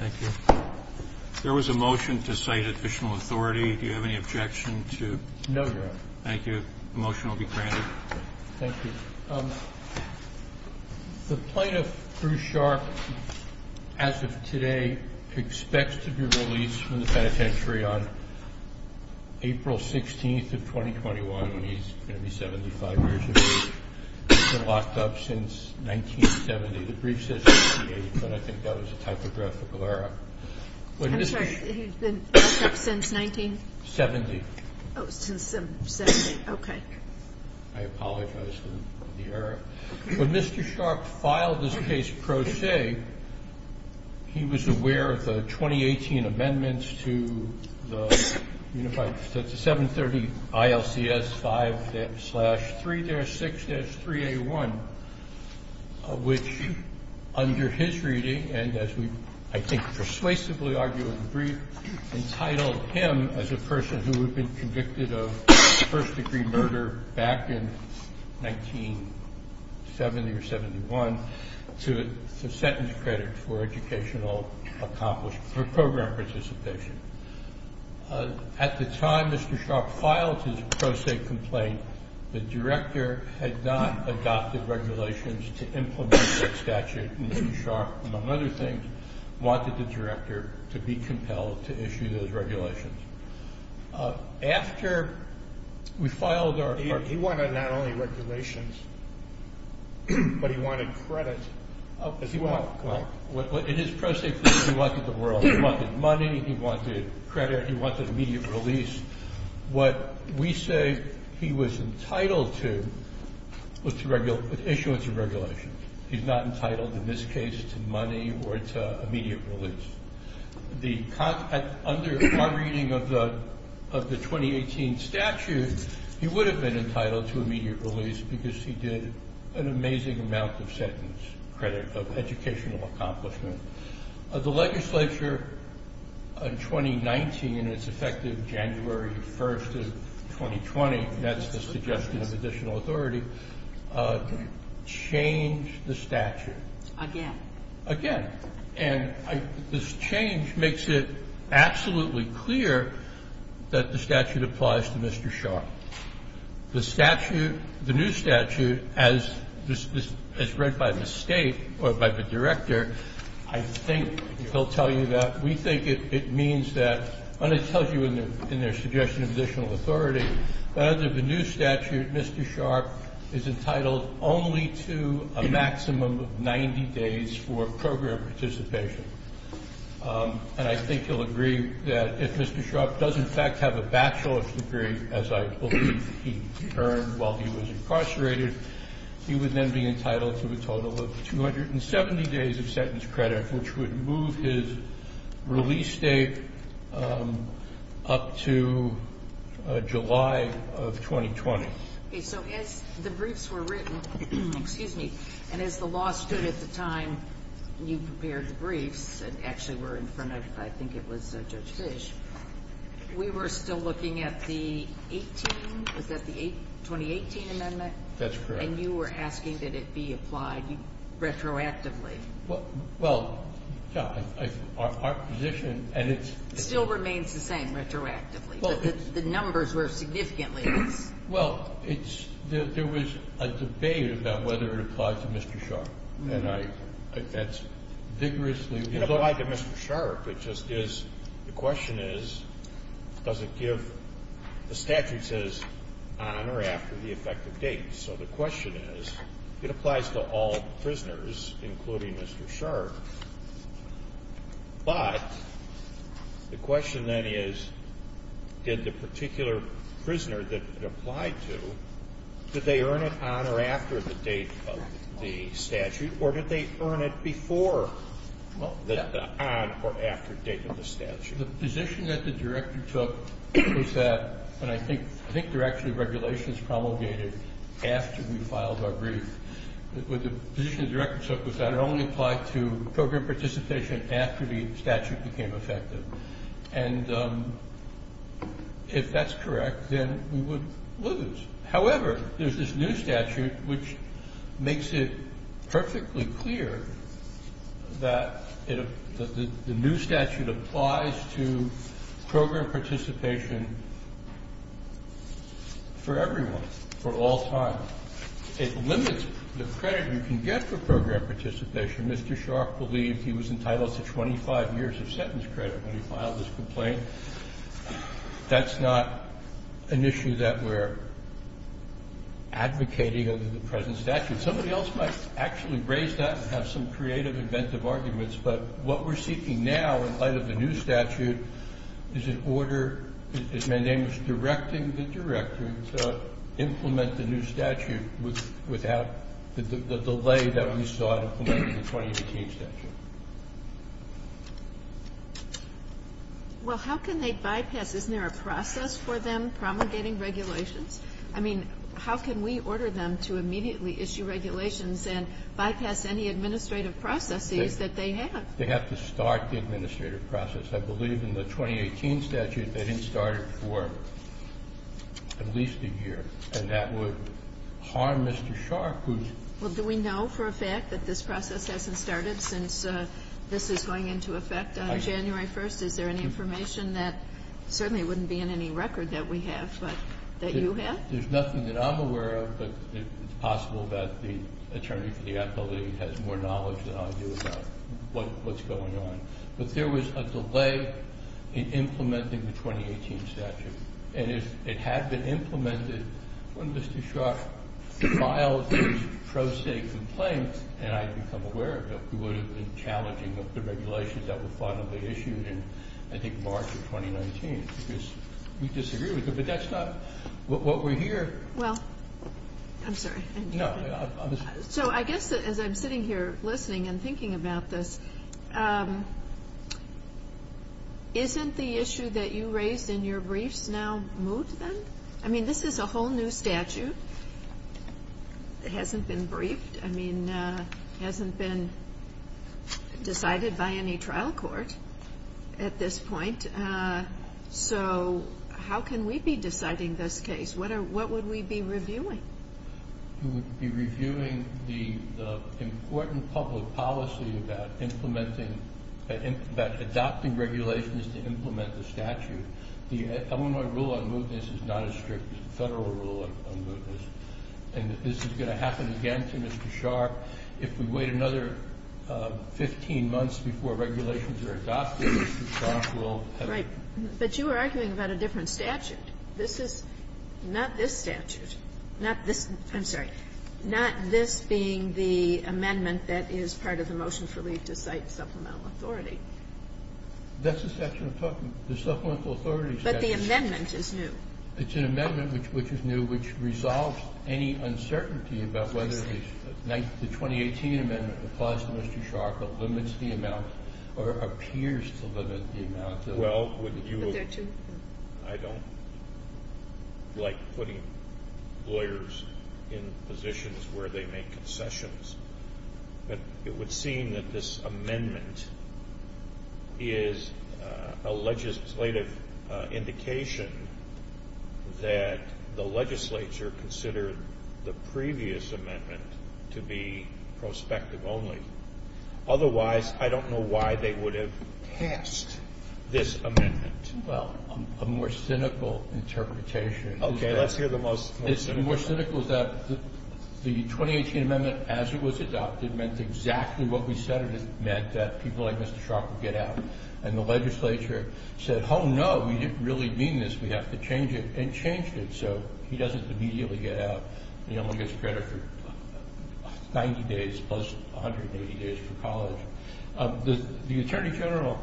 Thank you. There was a motion to cite official authority. Do you have any objection to? No, your honor. Thank you. The motion will be granted. Thank you. The plaintiff Bruce Sharp, as of today, expects to be released from the penitentiary on April 16th of 2021. He's going to be 75 years of age. He's been locked up since 1970. The brief says 1988, but I think that was a typographical error. I'm sorry. He's been locked up since 1970? Seventy. Oh, since 1970. Okay. I apologize. When Mr. Sharp filed his case pro se, he was aware of the 2018 amendments to the unified 730 ILCS 5-3-6-3A1, which, under his reading, and as we, I think, persuasively argue in the brief, entitled him as a person who had been convicted of first-degree murder back in 1970 or 71 to sentence credit for educational accomplishment, for program participation. At the time Mr. Sharp filed his pro se complaint, the director had not adopted regulations to implement that statute, and Mr. Sharp, among other things, wanted the director to be compelled to issue those regulations. He wanted not only regulations, but he wanted credit, as he wanted credit. In his pro se case, he wanted the world. He wanted money. He wanted credit. He wanted immediate release. What we say he was entitled to was issuance of regulations. He's not entitled, in this case, to money or to immediate release. Under our reading of the 2018 statute, he would have been entitled to immediate release because he did an amazing amount of sentence credit of educational accomplishment. The legislature, in 2019, and it's effective January 1st of 2020, and that's the suggestion of additional authority, changed the statute. Again. Again. This change makes it absolutely clear that the statute applies to Mr. Sharp. The statute, the new statute, as read by the state or by the director, I think he'll tell you that we think it means that, and it tells you in their suggestion of additional authority, that under the new statute, Mr. Sharp is entitled only to a maximum of 90 days for program participation. I think you'll agree that if Mr. Sharp does in fact have a bachelor's degree, as I believe he earned while he was incarcerated, he would then be entitled to a total of 270 days of of 2020. Okay. So as the briefs were written, excuse me, and as the law stood at the time you prepared the briefs, and actually were in front of, I think it was Judge Fish, we were still looking at the 18, was that the 2018 amendment? That's correct. And you were asking that it be applied retroactively. Well, yeah. Our position, and it's- Still remains the same retroactively. The numbers were significantly less. Well, there was a debate about whether it applied to Mr. Sharp, and that's vigorously- It applied to Mr. Sharp, it just is, the question is, does it give, the statute says on or after the effective date. So the question is, it applies to all prisoners, including Mr. Sharp, but the question then is, did the particular prisoner that it applied to, did they earn it on or after the date of the statute, or did they earn it before, on or after the date of the statute? The position that the director took was that, and I think there are actually regulations promulgated after we filed our brief, but the position the director took was that it became effective, and if that's correct, then we would lose. However, there's this new statute which makes it perfectly clear that the new statute applies to program participation for everyone, for all time. It limits the credit you can get for program participation. Mr. Sharp believed he was entitled to 25 years of sentence credit when he filed his complaint. That's not an issue that we're advocating under the present statute. Somebody else might actually raise that and have some creative, inventive arguments, but what we're seeking now, in light of the new statute, is an order, as my name is, directing the director to implement the new statute without the delay that we saw implemented in the 2018 statute. Well, how can they bypass? Isn't there a process for them promulgating regulations? I mean, how can we order them to immediately issue regulations and bypass any administrative processes that they have? They have to start the administrative process. I believe in the 2018 statute, they didn't start it for at least a year, and that would harm Mr. Sharp, who's... Well, do we know for a fact that this process hasn't started since this is going into effect on January 1st? Is there any information that certainly wouldn't be in any record that we have, but that you have? There's nothing that I'm aware of, but it's possible that the attorney for the appellate has more knowledge than I do about what's going on. But there was a delay in implementing the 2018 statute. And if it had been implemented when Mr. Sharp filed the pro se complaint, and I'd become aware of it, it would have been challenging of the regulations that were finally issued in, I think, March of 2019, because we disagreed with it. But that's not what we're here... Well, I'm sorry. No, I'm... So I guess as I'm sitting here listening and thinking about this, isn't the issue that you raised in your briefs now moved then? I mean, this is a whole new statute. It hasn't been briefed. I mean, it hasn't been decided by any trial court at this point. So how can we be deciding this case? What would we be reviewing? We would be reviewing the important public policy about implementing... The Illinois rule on mootness is not as strict as the Federal rule on mootness. And this is going to happen again to Mr. Sharp. If we wait another 15 months before regulations are adopted, Mr. Sharp will have... Right. But you are arguing about a different statute. This is not this statute. Not this... I'm sorry. Not this being the amendment that is part of the motion for leave to cite supplemental authority. That's the statute I'm talking about. The supplemental authority statute. But the amendment is new. It's an amendment which is new which resolves any uncertainty about whether the 2018 amendment applies to Mr. Sharp or limits the amount or appears to limit the amount. Well, would you... But there are two... I don't like putting lawyers in positions where they make concessions. But it would seem that this amendment is a legislative indication that the legislature considered the previous amendment to be prospective only. Otherwise, I don't know why they would have passed this amendment. Well, a more cynical interpretation... Okay, let's hear the most cynical... The most cynical is that the 2018 amendment, as it was adopted, meant exactly what we said it meant, that people like Mr. Sharp would get out. And the legislature said, oh no, we didn't really mean this, we have to change it, and changed it. So he doesn't immediately get out. He only gets credit for 90 days plus 180 days for college. The Attorney General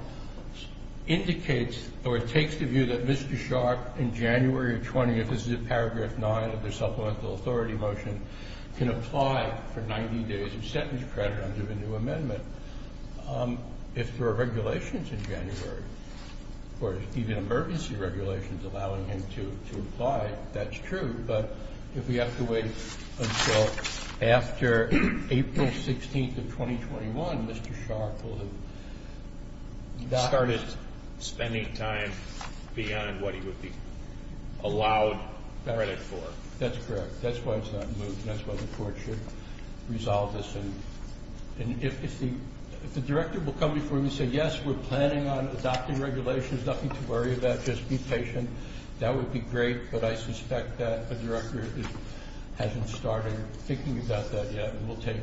indicates or takes the view that Mr. Sharp, in January of 20... This is in paragraph 9 of the Supplemental Authority motion, can apply for 90 days of sentence credit under the new amendment. If there are regulations in January, or even emergency regulations allowing him to apply, that's true. But if we have to wait until after April 16th of 2021, Mr. Sharp will have... Any time beyond what he would be allowed credit for. That's correct. That's why it's not moved. That's why the court should resolve this. And if the Director will come before me and say, yes, we're planning on adopting regulations, nothing to worry about, just be patient, that would be great. But I suspect that the Director hasn't started thinking about that yet, and will take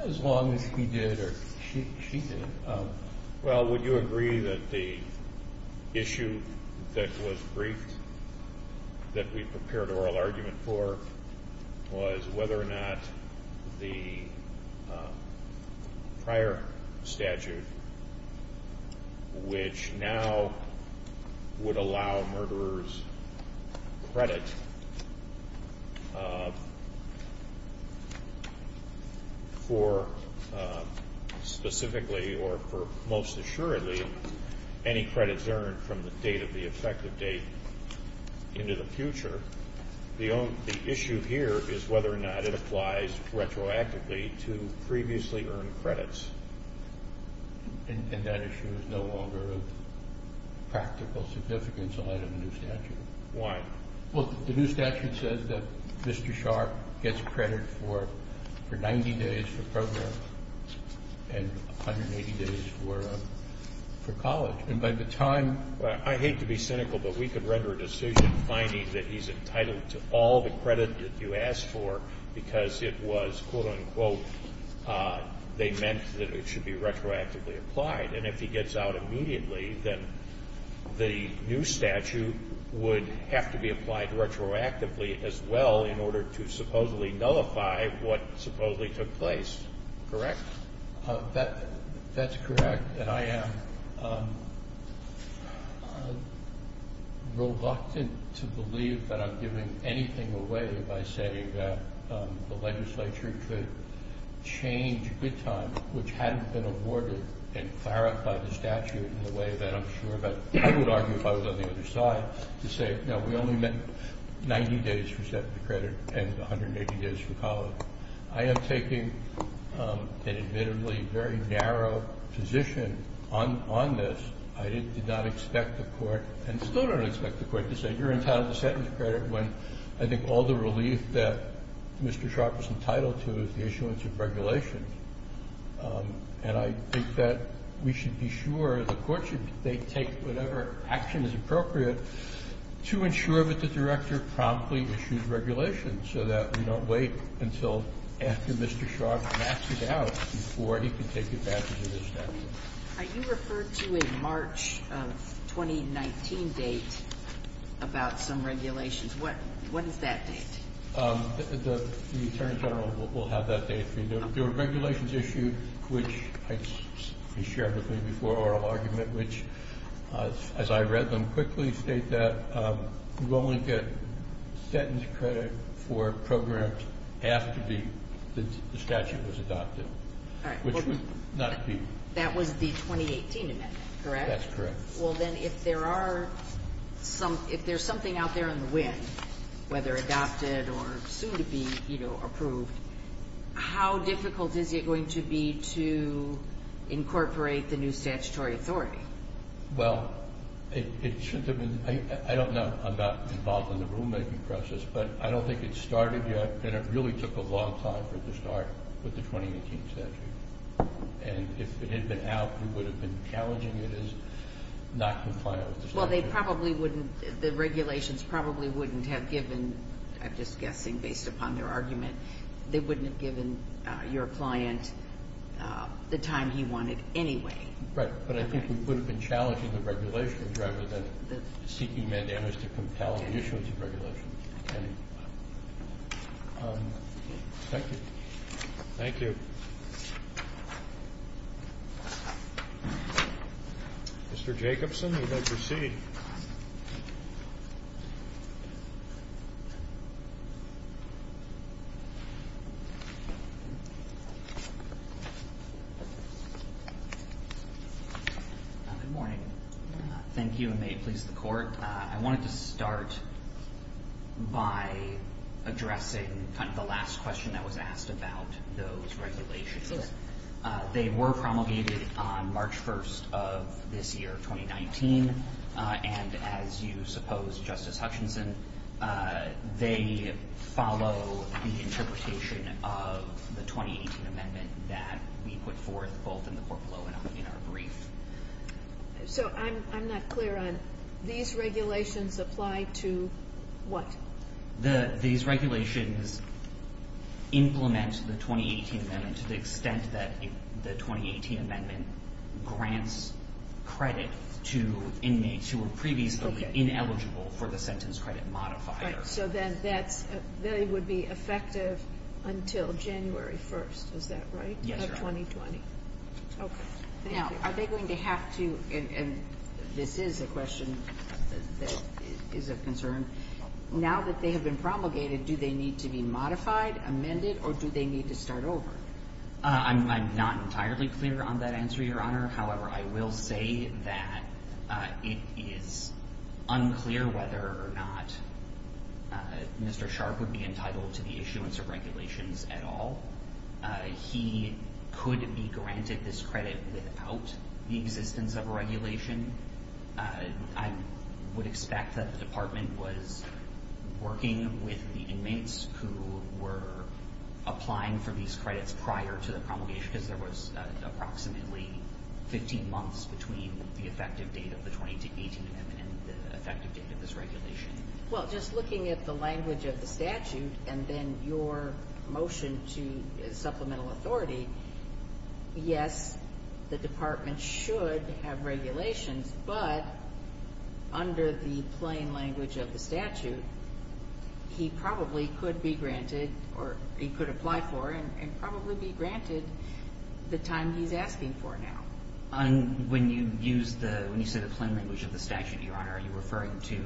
as long as he did or she did. Well, would you agree that the issue that was briefed, that we prepared oral argument for was whether or not the prior statute, which now would allow murderers credit for specifically, or for most assuredly, any credits earned from the date of the effective date into the future. The issue here is whether or not it applies retroactively to previously earned credits. And that issue is no longer of practical significance in light of the new statute. Why? Well, the new statute says that Mr. Sharp gets credit for 90 days for program and 180 days for college. And by the time... I hate to be cynical, but we could render a decision finding that he's entitled to all the credit that you asked for because it was, quote-unquote, they meant that it should be retroactively applied. And if he gets out immediately, then the new statute would have to be applied retroactively as well in order to supposedly nullify what supposedly took place. Correct? That's correct, and I am reluctant to believe that I'm giving anything away by saying that the legislature could change good time, which hadn't been awarded, and clarify the statute in a way that I'm sure that I would argue if I was on the other side to say, no, we only meant 90 days for set for credit and 180 days for college. I am taking an admittedly very narrow position on this. I did not expect the court and still don't expect the court to say you're entitled to sentence credit when I think all the relief that Mr. Sharp is entitled to is the issuance of regulation. And I think that we should be sure the court should take whatever action is appropriate to ensure that the director promptly issues regulation so that we don't wait until after Mr. Sharp backs it out before he can take it back into the statute. Are you referred to a March of 2019 date about some regulations? What is that date? The Attorney General will have that date for you. There are regulations issued, which I shared with you before, oral argument, which, as I read them quickly, state that you only get sentence credit for programs after the statute was adopted, which would not be... That was the 2018 amendment, correct? That's correct. Well, then, if there's something out there in the wind, whether adopted or soon to be approved, how difficult is it going to be to incorporate the new statutory authority? Well, I don't know. I'm not involved in the rulemaking process, but I don't think it's started yet, and it really took a long time for it to start with the 2018 statute. And if it had been out, we would have been challenging it as not to file the statute. Well, the regulations probably wouldn't have given, I'm just guessing based upon their argument, they wouldn't have given your client the time he wanted anyway. Right, but I think we would have been challenging the regulations rather than seeking mandamus to compel the issuance of regulations. Thank you. Thank you. Mr. Jacobson, you may proceed. Good morning. Thank you, and may it please the Court. I wanted to start by addressing kind of the last question that was asked about those regulations. Sure. They were promulgated on March 1st of this year, 2019, and as you supposed, Justice Hutchinson, they follow the interpretation of the 2018 amendment that we put forth both in the court below and in our brief. So I'm not clear on these regulations apply to what? These regulations implement the 2018 amendment to the extent that the 2018 amendment grants credit to inmates who were previously ineligible for the sentence credit modifier. So then they would be effective until January 1st, is that right? Yes, Your Honor. Of 2020? Okay. Now, are they going to have to, and this is a question that is of concern, now that they have been promulgated, do they need to be modified, amended, or do they need to start over? I'm not entirely clear on that answer, Your Honor. However, I will say that it is unclear whether or not Mr. Sharp would be entitled to the issuance of regulations at all. He could be granted this credit without the existence of a regulation. I would expect that the department was working with the inmates who were applying for these credits prior to the promulgation, because there was approximately 15 months between the effective date of the 2018 amendment and the effective date of this regulation. Well, just looking at the language of the statute and then your motion to supplemental authority, yes, the department should have regulations, but under the plain language of the statute, he probably could be granted, or he could apply for and probably be granted the time he's asking for now. When you say the plain language of the statute, Your Honor, are you referring to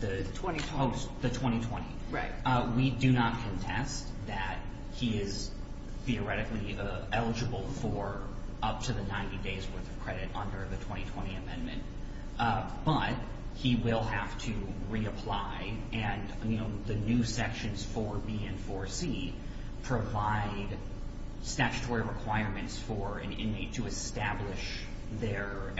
the 2020? Oh, the 2020. Right. We do not contest that he is theoretically eligible for up to the 90 days worth of credit under the 2020 amendment, but he will have to reapply, and the new sections 4B and 4C provide statutory requirements for an inmate to establish their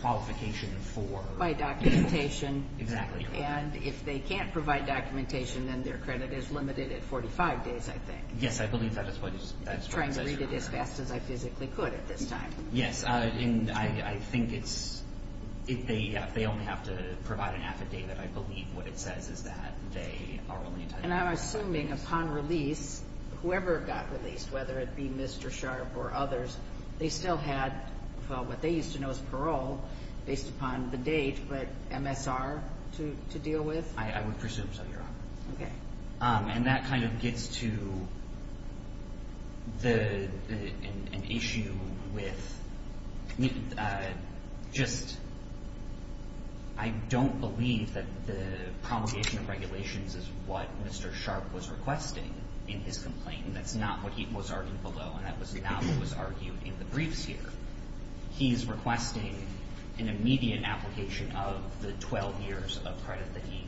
qualification for... By documentation. Exactly. And if they can't provide documentation, then their credit is limited at 45 days, I think. Yes, I believe that is what is... Trying to read it as fast as I physically could at this time. Yes, and I think it's... They only have to provide an affidavit. I believe what it says is that they are only entitled... And I'm assuming upon release, whoever got released, whether it be Mr. Sharp or others, they still had what they used to know as parole based upon the date, but MSR to deal with? I would presume so, Your Honor. Okay. And that kind of gets to an issue with just... I don't believe that the promulgation of regulations is what Mr. Sharp was requesting in his complaint. That's not what he was arguing below, and that was not what was argued in the briefs here. He's requesting an immediate application of the 12 years of credit that he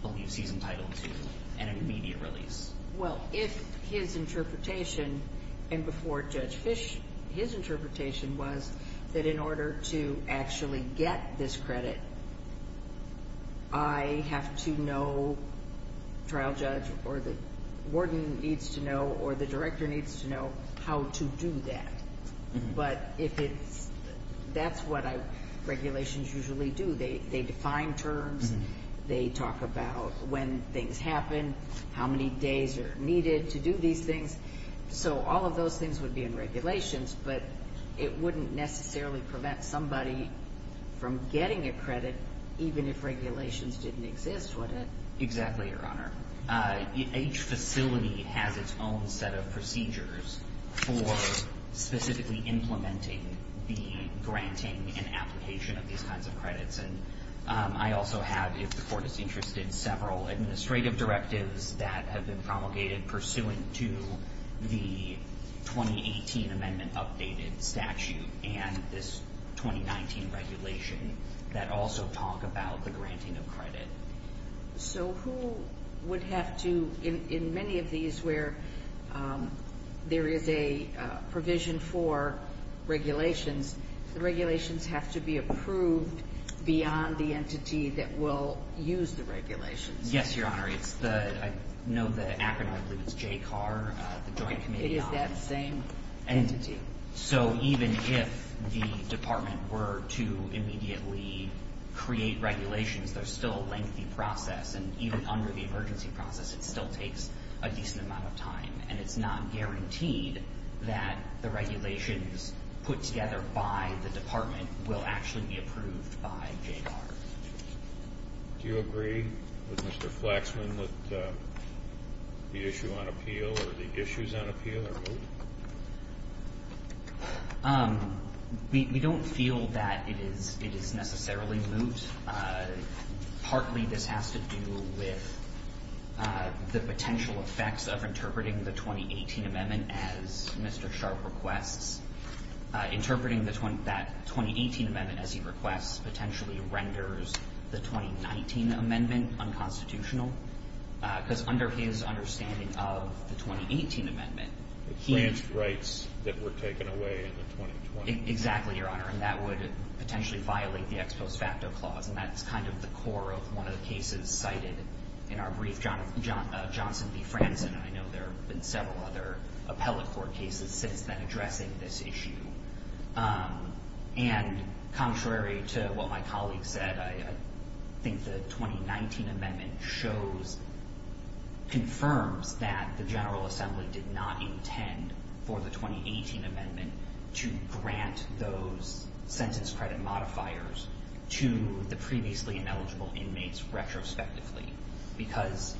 believes he's entitled to an immediate release. Well, if his interpretation, and before Judge Fish, his interpretation was that in order to actually get this credit, I have to know, trial judge or the warden needs to know or the director needs to know how to do that. But if it's... That's what regulations usually do. They define terms. They talk about when things happen, how many days are needed to do these things. So all of those things would be in regulations, but it wouldn't necessarily prevent somebody from getting a credit even if regulations didn't exist, would it? Exactly, Your Honor. Each facility has its own set of procedures for specifically implementing the granting and application of these kinds of credits. And I also have, if the court is interested, several administrative directives that have been promulgated pursuant to the 2018 amendment updated statute and this 2019 regulation that also talk about the granting of credit. So who would have to, in many of these where there is a provision for regulations, the regulations have to be approved beyond the entity that will use the regulations. Yes, Your Honor. I know the acronym, I believe it's JCAR, the Joint Committee on... It is that same entity. So even if the department were to immediately create regulations, there's still a lengthy process and even under the emergency process it still takes a decent amount of time and it's not guaranteed that the regulations put together by the department will actually be approved by JCAR. Do you agree with Mr. Flaxman with the issue on appeal or the issues on appeal or moot? We don't feel that it is necessarily moot. Partly this has to do with the potential effects of interpreting the 2018 amendment as Mr. Sharp requests. Interpreting that 2018 amendment as he requests potentially renders the 2019 amendment unconstitutional because under his understanding of the 2018 amendment... The franchise rights that were taken away in the 2020 amendment. Exactly, Your Honor. And that would potentially violate the ex post facto clause and that's kind of the core of one of the cases cited in our brief, Johnson v. Franzen. I know there have been several other appellate court cases since then addressing this issue. And contrary to what my colleague said I think the 2019 amendment shows confirms that the General Assembly did not intend for the 2018 amendment to grant those sentence credit modifiers to the previously ineligible inmates retrospectively because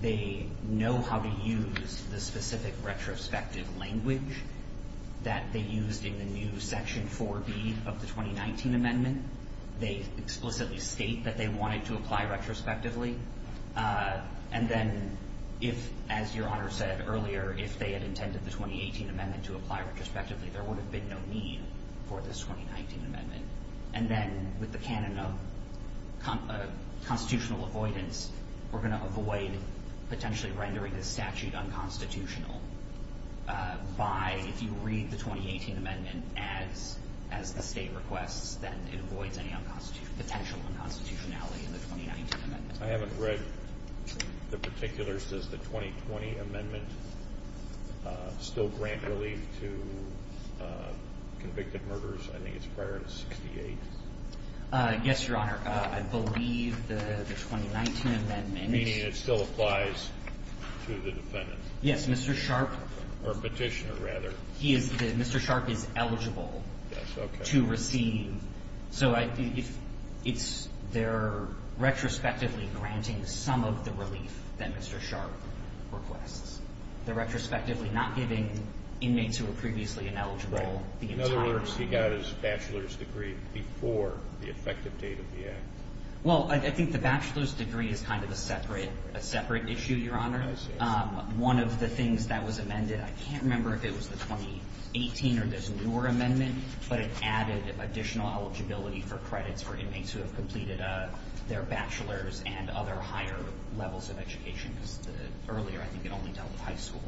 they know how to use the specific retrospective language that they used in the new section 4B of the 2019 amendment. They explicitly state that they wanted to apply retrospectively and then if, as Your Honor said earlier if they had intended the 2018 amendment to apply retrospectively there would have been no need for this 2019 amendment. And then with the canon of constitutional avoidance we're going to avoid potentially rendering this statute unconstitutional by, if you read the 2018 amendment as the state requests then it avoids any potential unconstitutionality in the 2019 amendment. I haven't read the particulars does the 2020 amendment still grant relief to convicted murderers I think it's prior to 68. Yes, Your Honor. I believe the 2019 amendment Meaning it still applies to the defendant. Yes, Mr. Sharpe or petitioner rather Mr. Sharpe is eligible to receive so it's they're retrospectively granting some of the relief that Mr. Sharpe requests. They're retrospectively not giving inmates who were previously ineligible In other words, he got his bachelor's degree before the effective date of the act. Well, I think the bachelor's degree is kind of a separate issue, Your Honor. One of the things that was amended I can't remember if it was the 2018 or this newer amendment but it added additional eligibility for credits for inmates who have completed their bachelor's and other higher levels of education because earlier I think it only dealt with high school.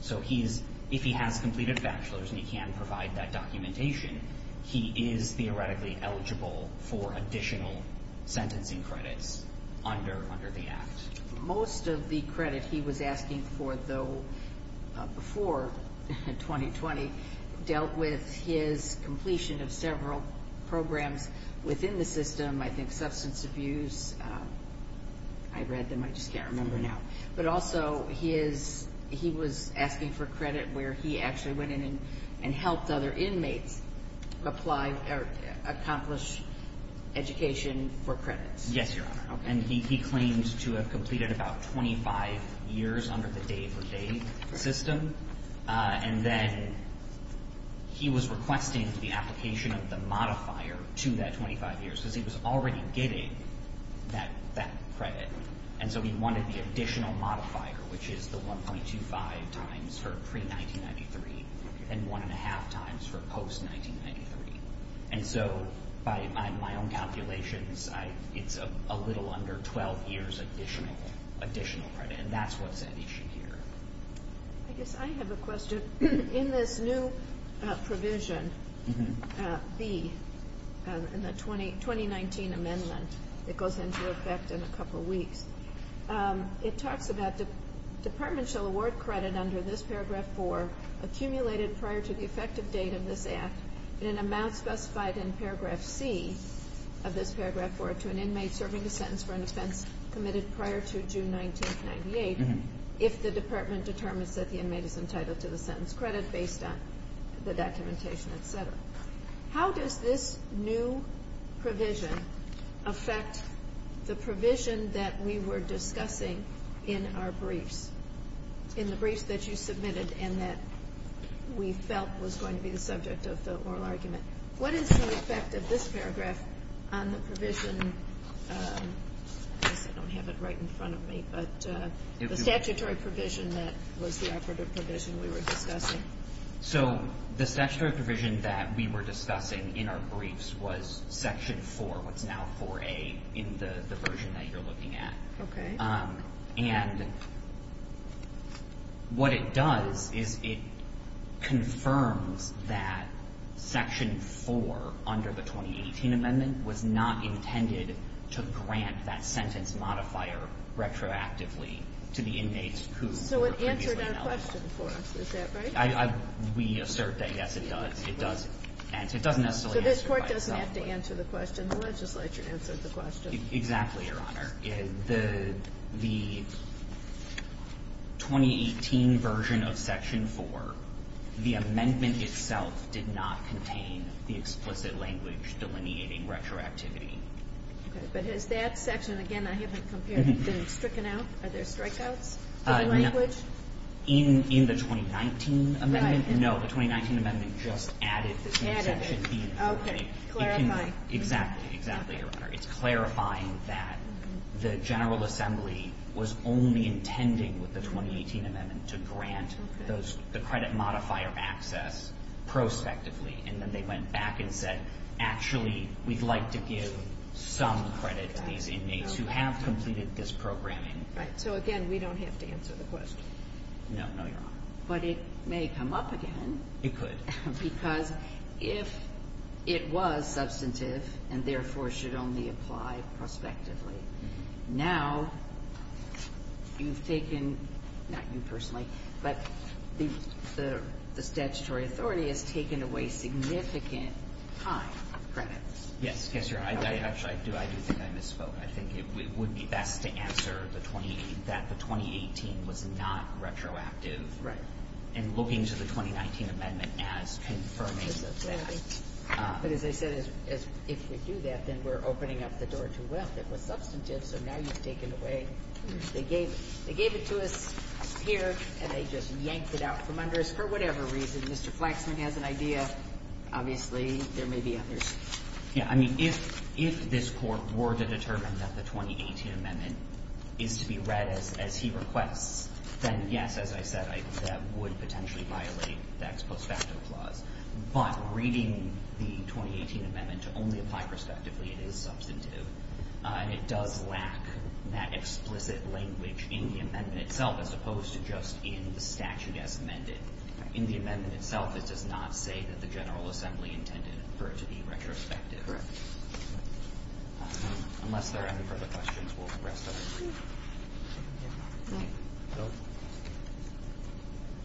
So he's, if he has completed bachelor's and he can provide that documentation he is theoretically eligible for additional sentencing credits under the act. Most of the credit he was asking for though before 2020 dealt with his completion of several programs within the system, I think substance abuse I read them, I just can't remember now but also he was asking for credit where he actually went in and helped other inmates accomplish education for credits. Yes, Your Honor. And he claimed to have completed about 25 years under the day-for-day system and then he was requesting the application of the modifier to that 25 years because he was already getting that credit and so he wanted the additional modifier which is the 1.25 times for pre-1993 and 1.5 times for post-1993 and so by my own calculations it's a little under 12 years additional credit and that's what's at issue here. I guess I have a question in this new provision B in the 2019 amendment that goes into effect in a couple weeks it talks about departments shall award credit under this paragraph 4 accumulated prior to the effective date of this act and an amount specified in paragraph C of this paragraph 4 to an inmate serving a sentence for an offense committed prior to June 19, 1998 if the department determines that the inmate is entitled to the sentence credit based on the documentation etc. How does this new provision affect the provision that we were discussing in our briefs? In the briefs that you submitted and that we felt was going to be the subject of the oral argument what is the effect of this paragraph on the provision I guess I don't have it right in front of me the statutory provision that was the operative provision we were discussing So the statutory provision that we were discussing in our briefs was section 4 what's now 4A in the version that you're looking at and what it does is it confirms that section 4 under the 2018 amendment was not intended to grant that sentence modifier retroactively to the inmates who were previously held So it answered our question for us, is that right? We assert that yes it does it does answer, it doesn't necessarily answer So this court doesn't have to answer the question the legislature answered the question Exactly your honor the 2018 version of section 4 the amendment itself did not contain the explicit language delineating retroactivity But has that section, again I haven't compared been stricken out, are there strikeouts to the language? In the 2019 amendment No, the 2019 amendment just added to section 4 Clarifying It's clarifying that the general assembly was only intending with the 2018 amendment to grant the credit modifier of access prospectively and then they went back and said actually we'd like to give some credit to these inmates who have completed this programming So again, we don't have to answer the question No, no your honor But it may come up again because if it was substantive and therefore should only apply prospectively Now you've taken not you personally but the statutory authority has taken away significant time credits Yes, yes your honor I do think I misspoke I think it would be best to answer that the 2018 was not retroactive and looking to the 2019 amendment as confirming that But as I said if we do that then we're opening up the door too well that was substantive so now you've taken away they gave it to us here and they just yanked it out from under us for whatever reason Mr. Flaxman has an idea obviously there may be others Yeah, I mean if this court were to determine that the 2018 amendment is to be read as he requests then yes as I said that would potentially violate the ex post facto clause but reading the 2018 amendment to only apply prospectively it is substantive and it does lack that explicit language in the amendment itself as opposed to just in the statute as amended In the amendment itself it does not say that the General Assembly intended for it to be retrospective Unless there are any further questions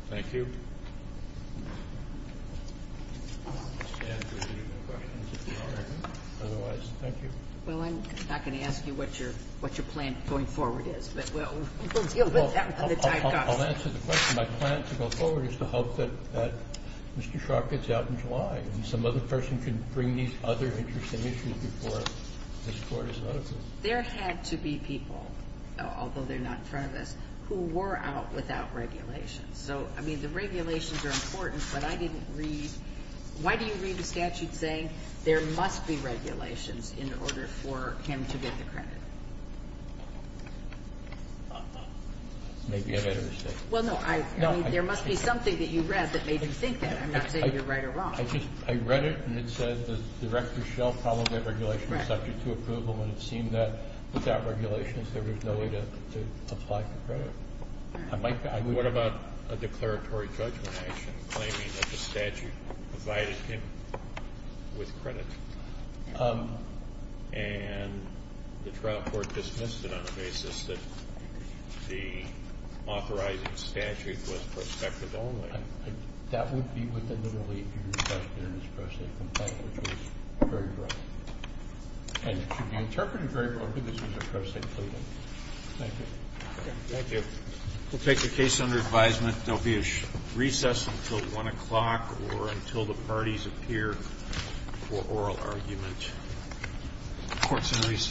Thank you Well I'm not going to ask you what your plan going forward is but we'll deal with that I'll answer the question My plan to go forward is to hope that Mr. Sharp gets out in July and some other person can bring these other interesting issues before this court is open There had to be people although they're not in front of us who were out without regulations so I mean the regulations are important but I didn't read Why do you read the statute saying there must be regulations in order for him to get the credit Maybe I made a mistake Well no, there must be something that you read that made you think that I'm not saying you're right or wrong I just, I read it and it said that Director Schell probably had regulations subject to approval and it seemed that without regulations there was no way to apply for credit What about a declaratory judgment action claiming that the statute provided him with credit and the trial court dismissed it on the basis that the authorizing statute was prospective only That would be within the relief of your discretion in this pro se complaint which was very broad and should be interpreted very broadly this was a pro se claim Thank you We'll take the case under advisement There will be a recess until 1 o'clock or until the parties appear for oral argument Court's in recess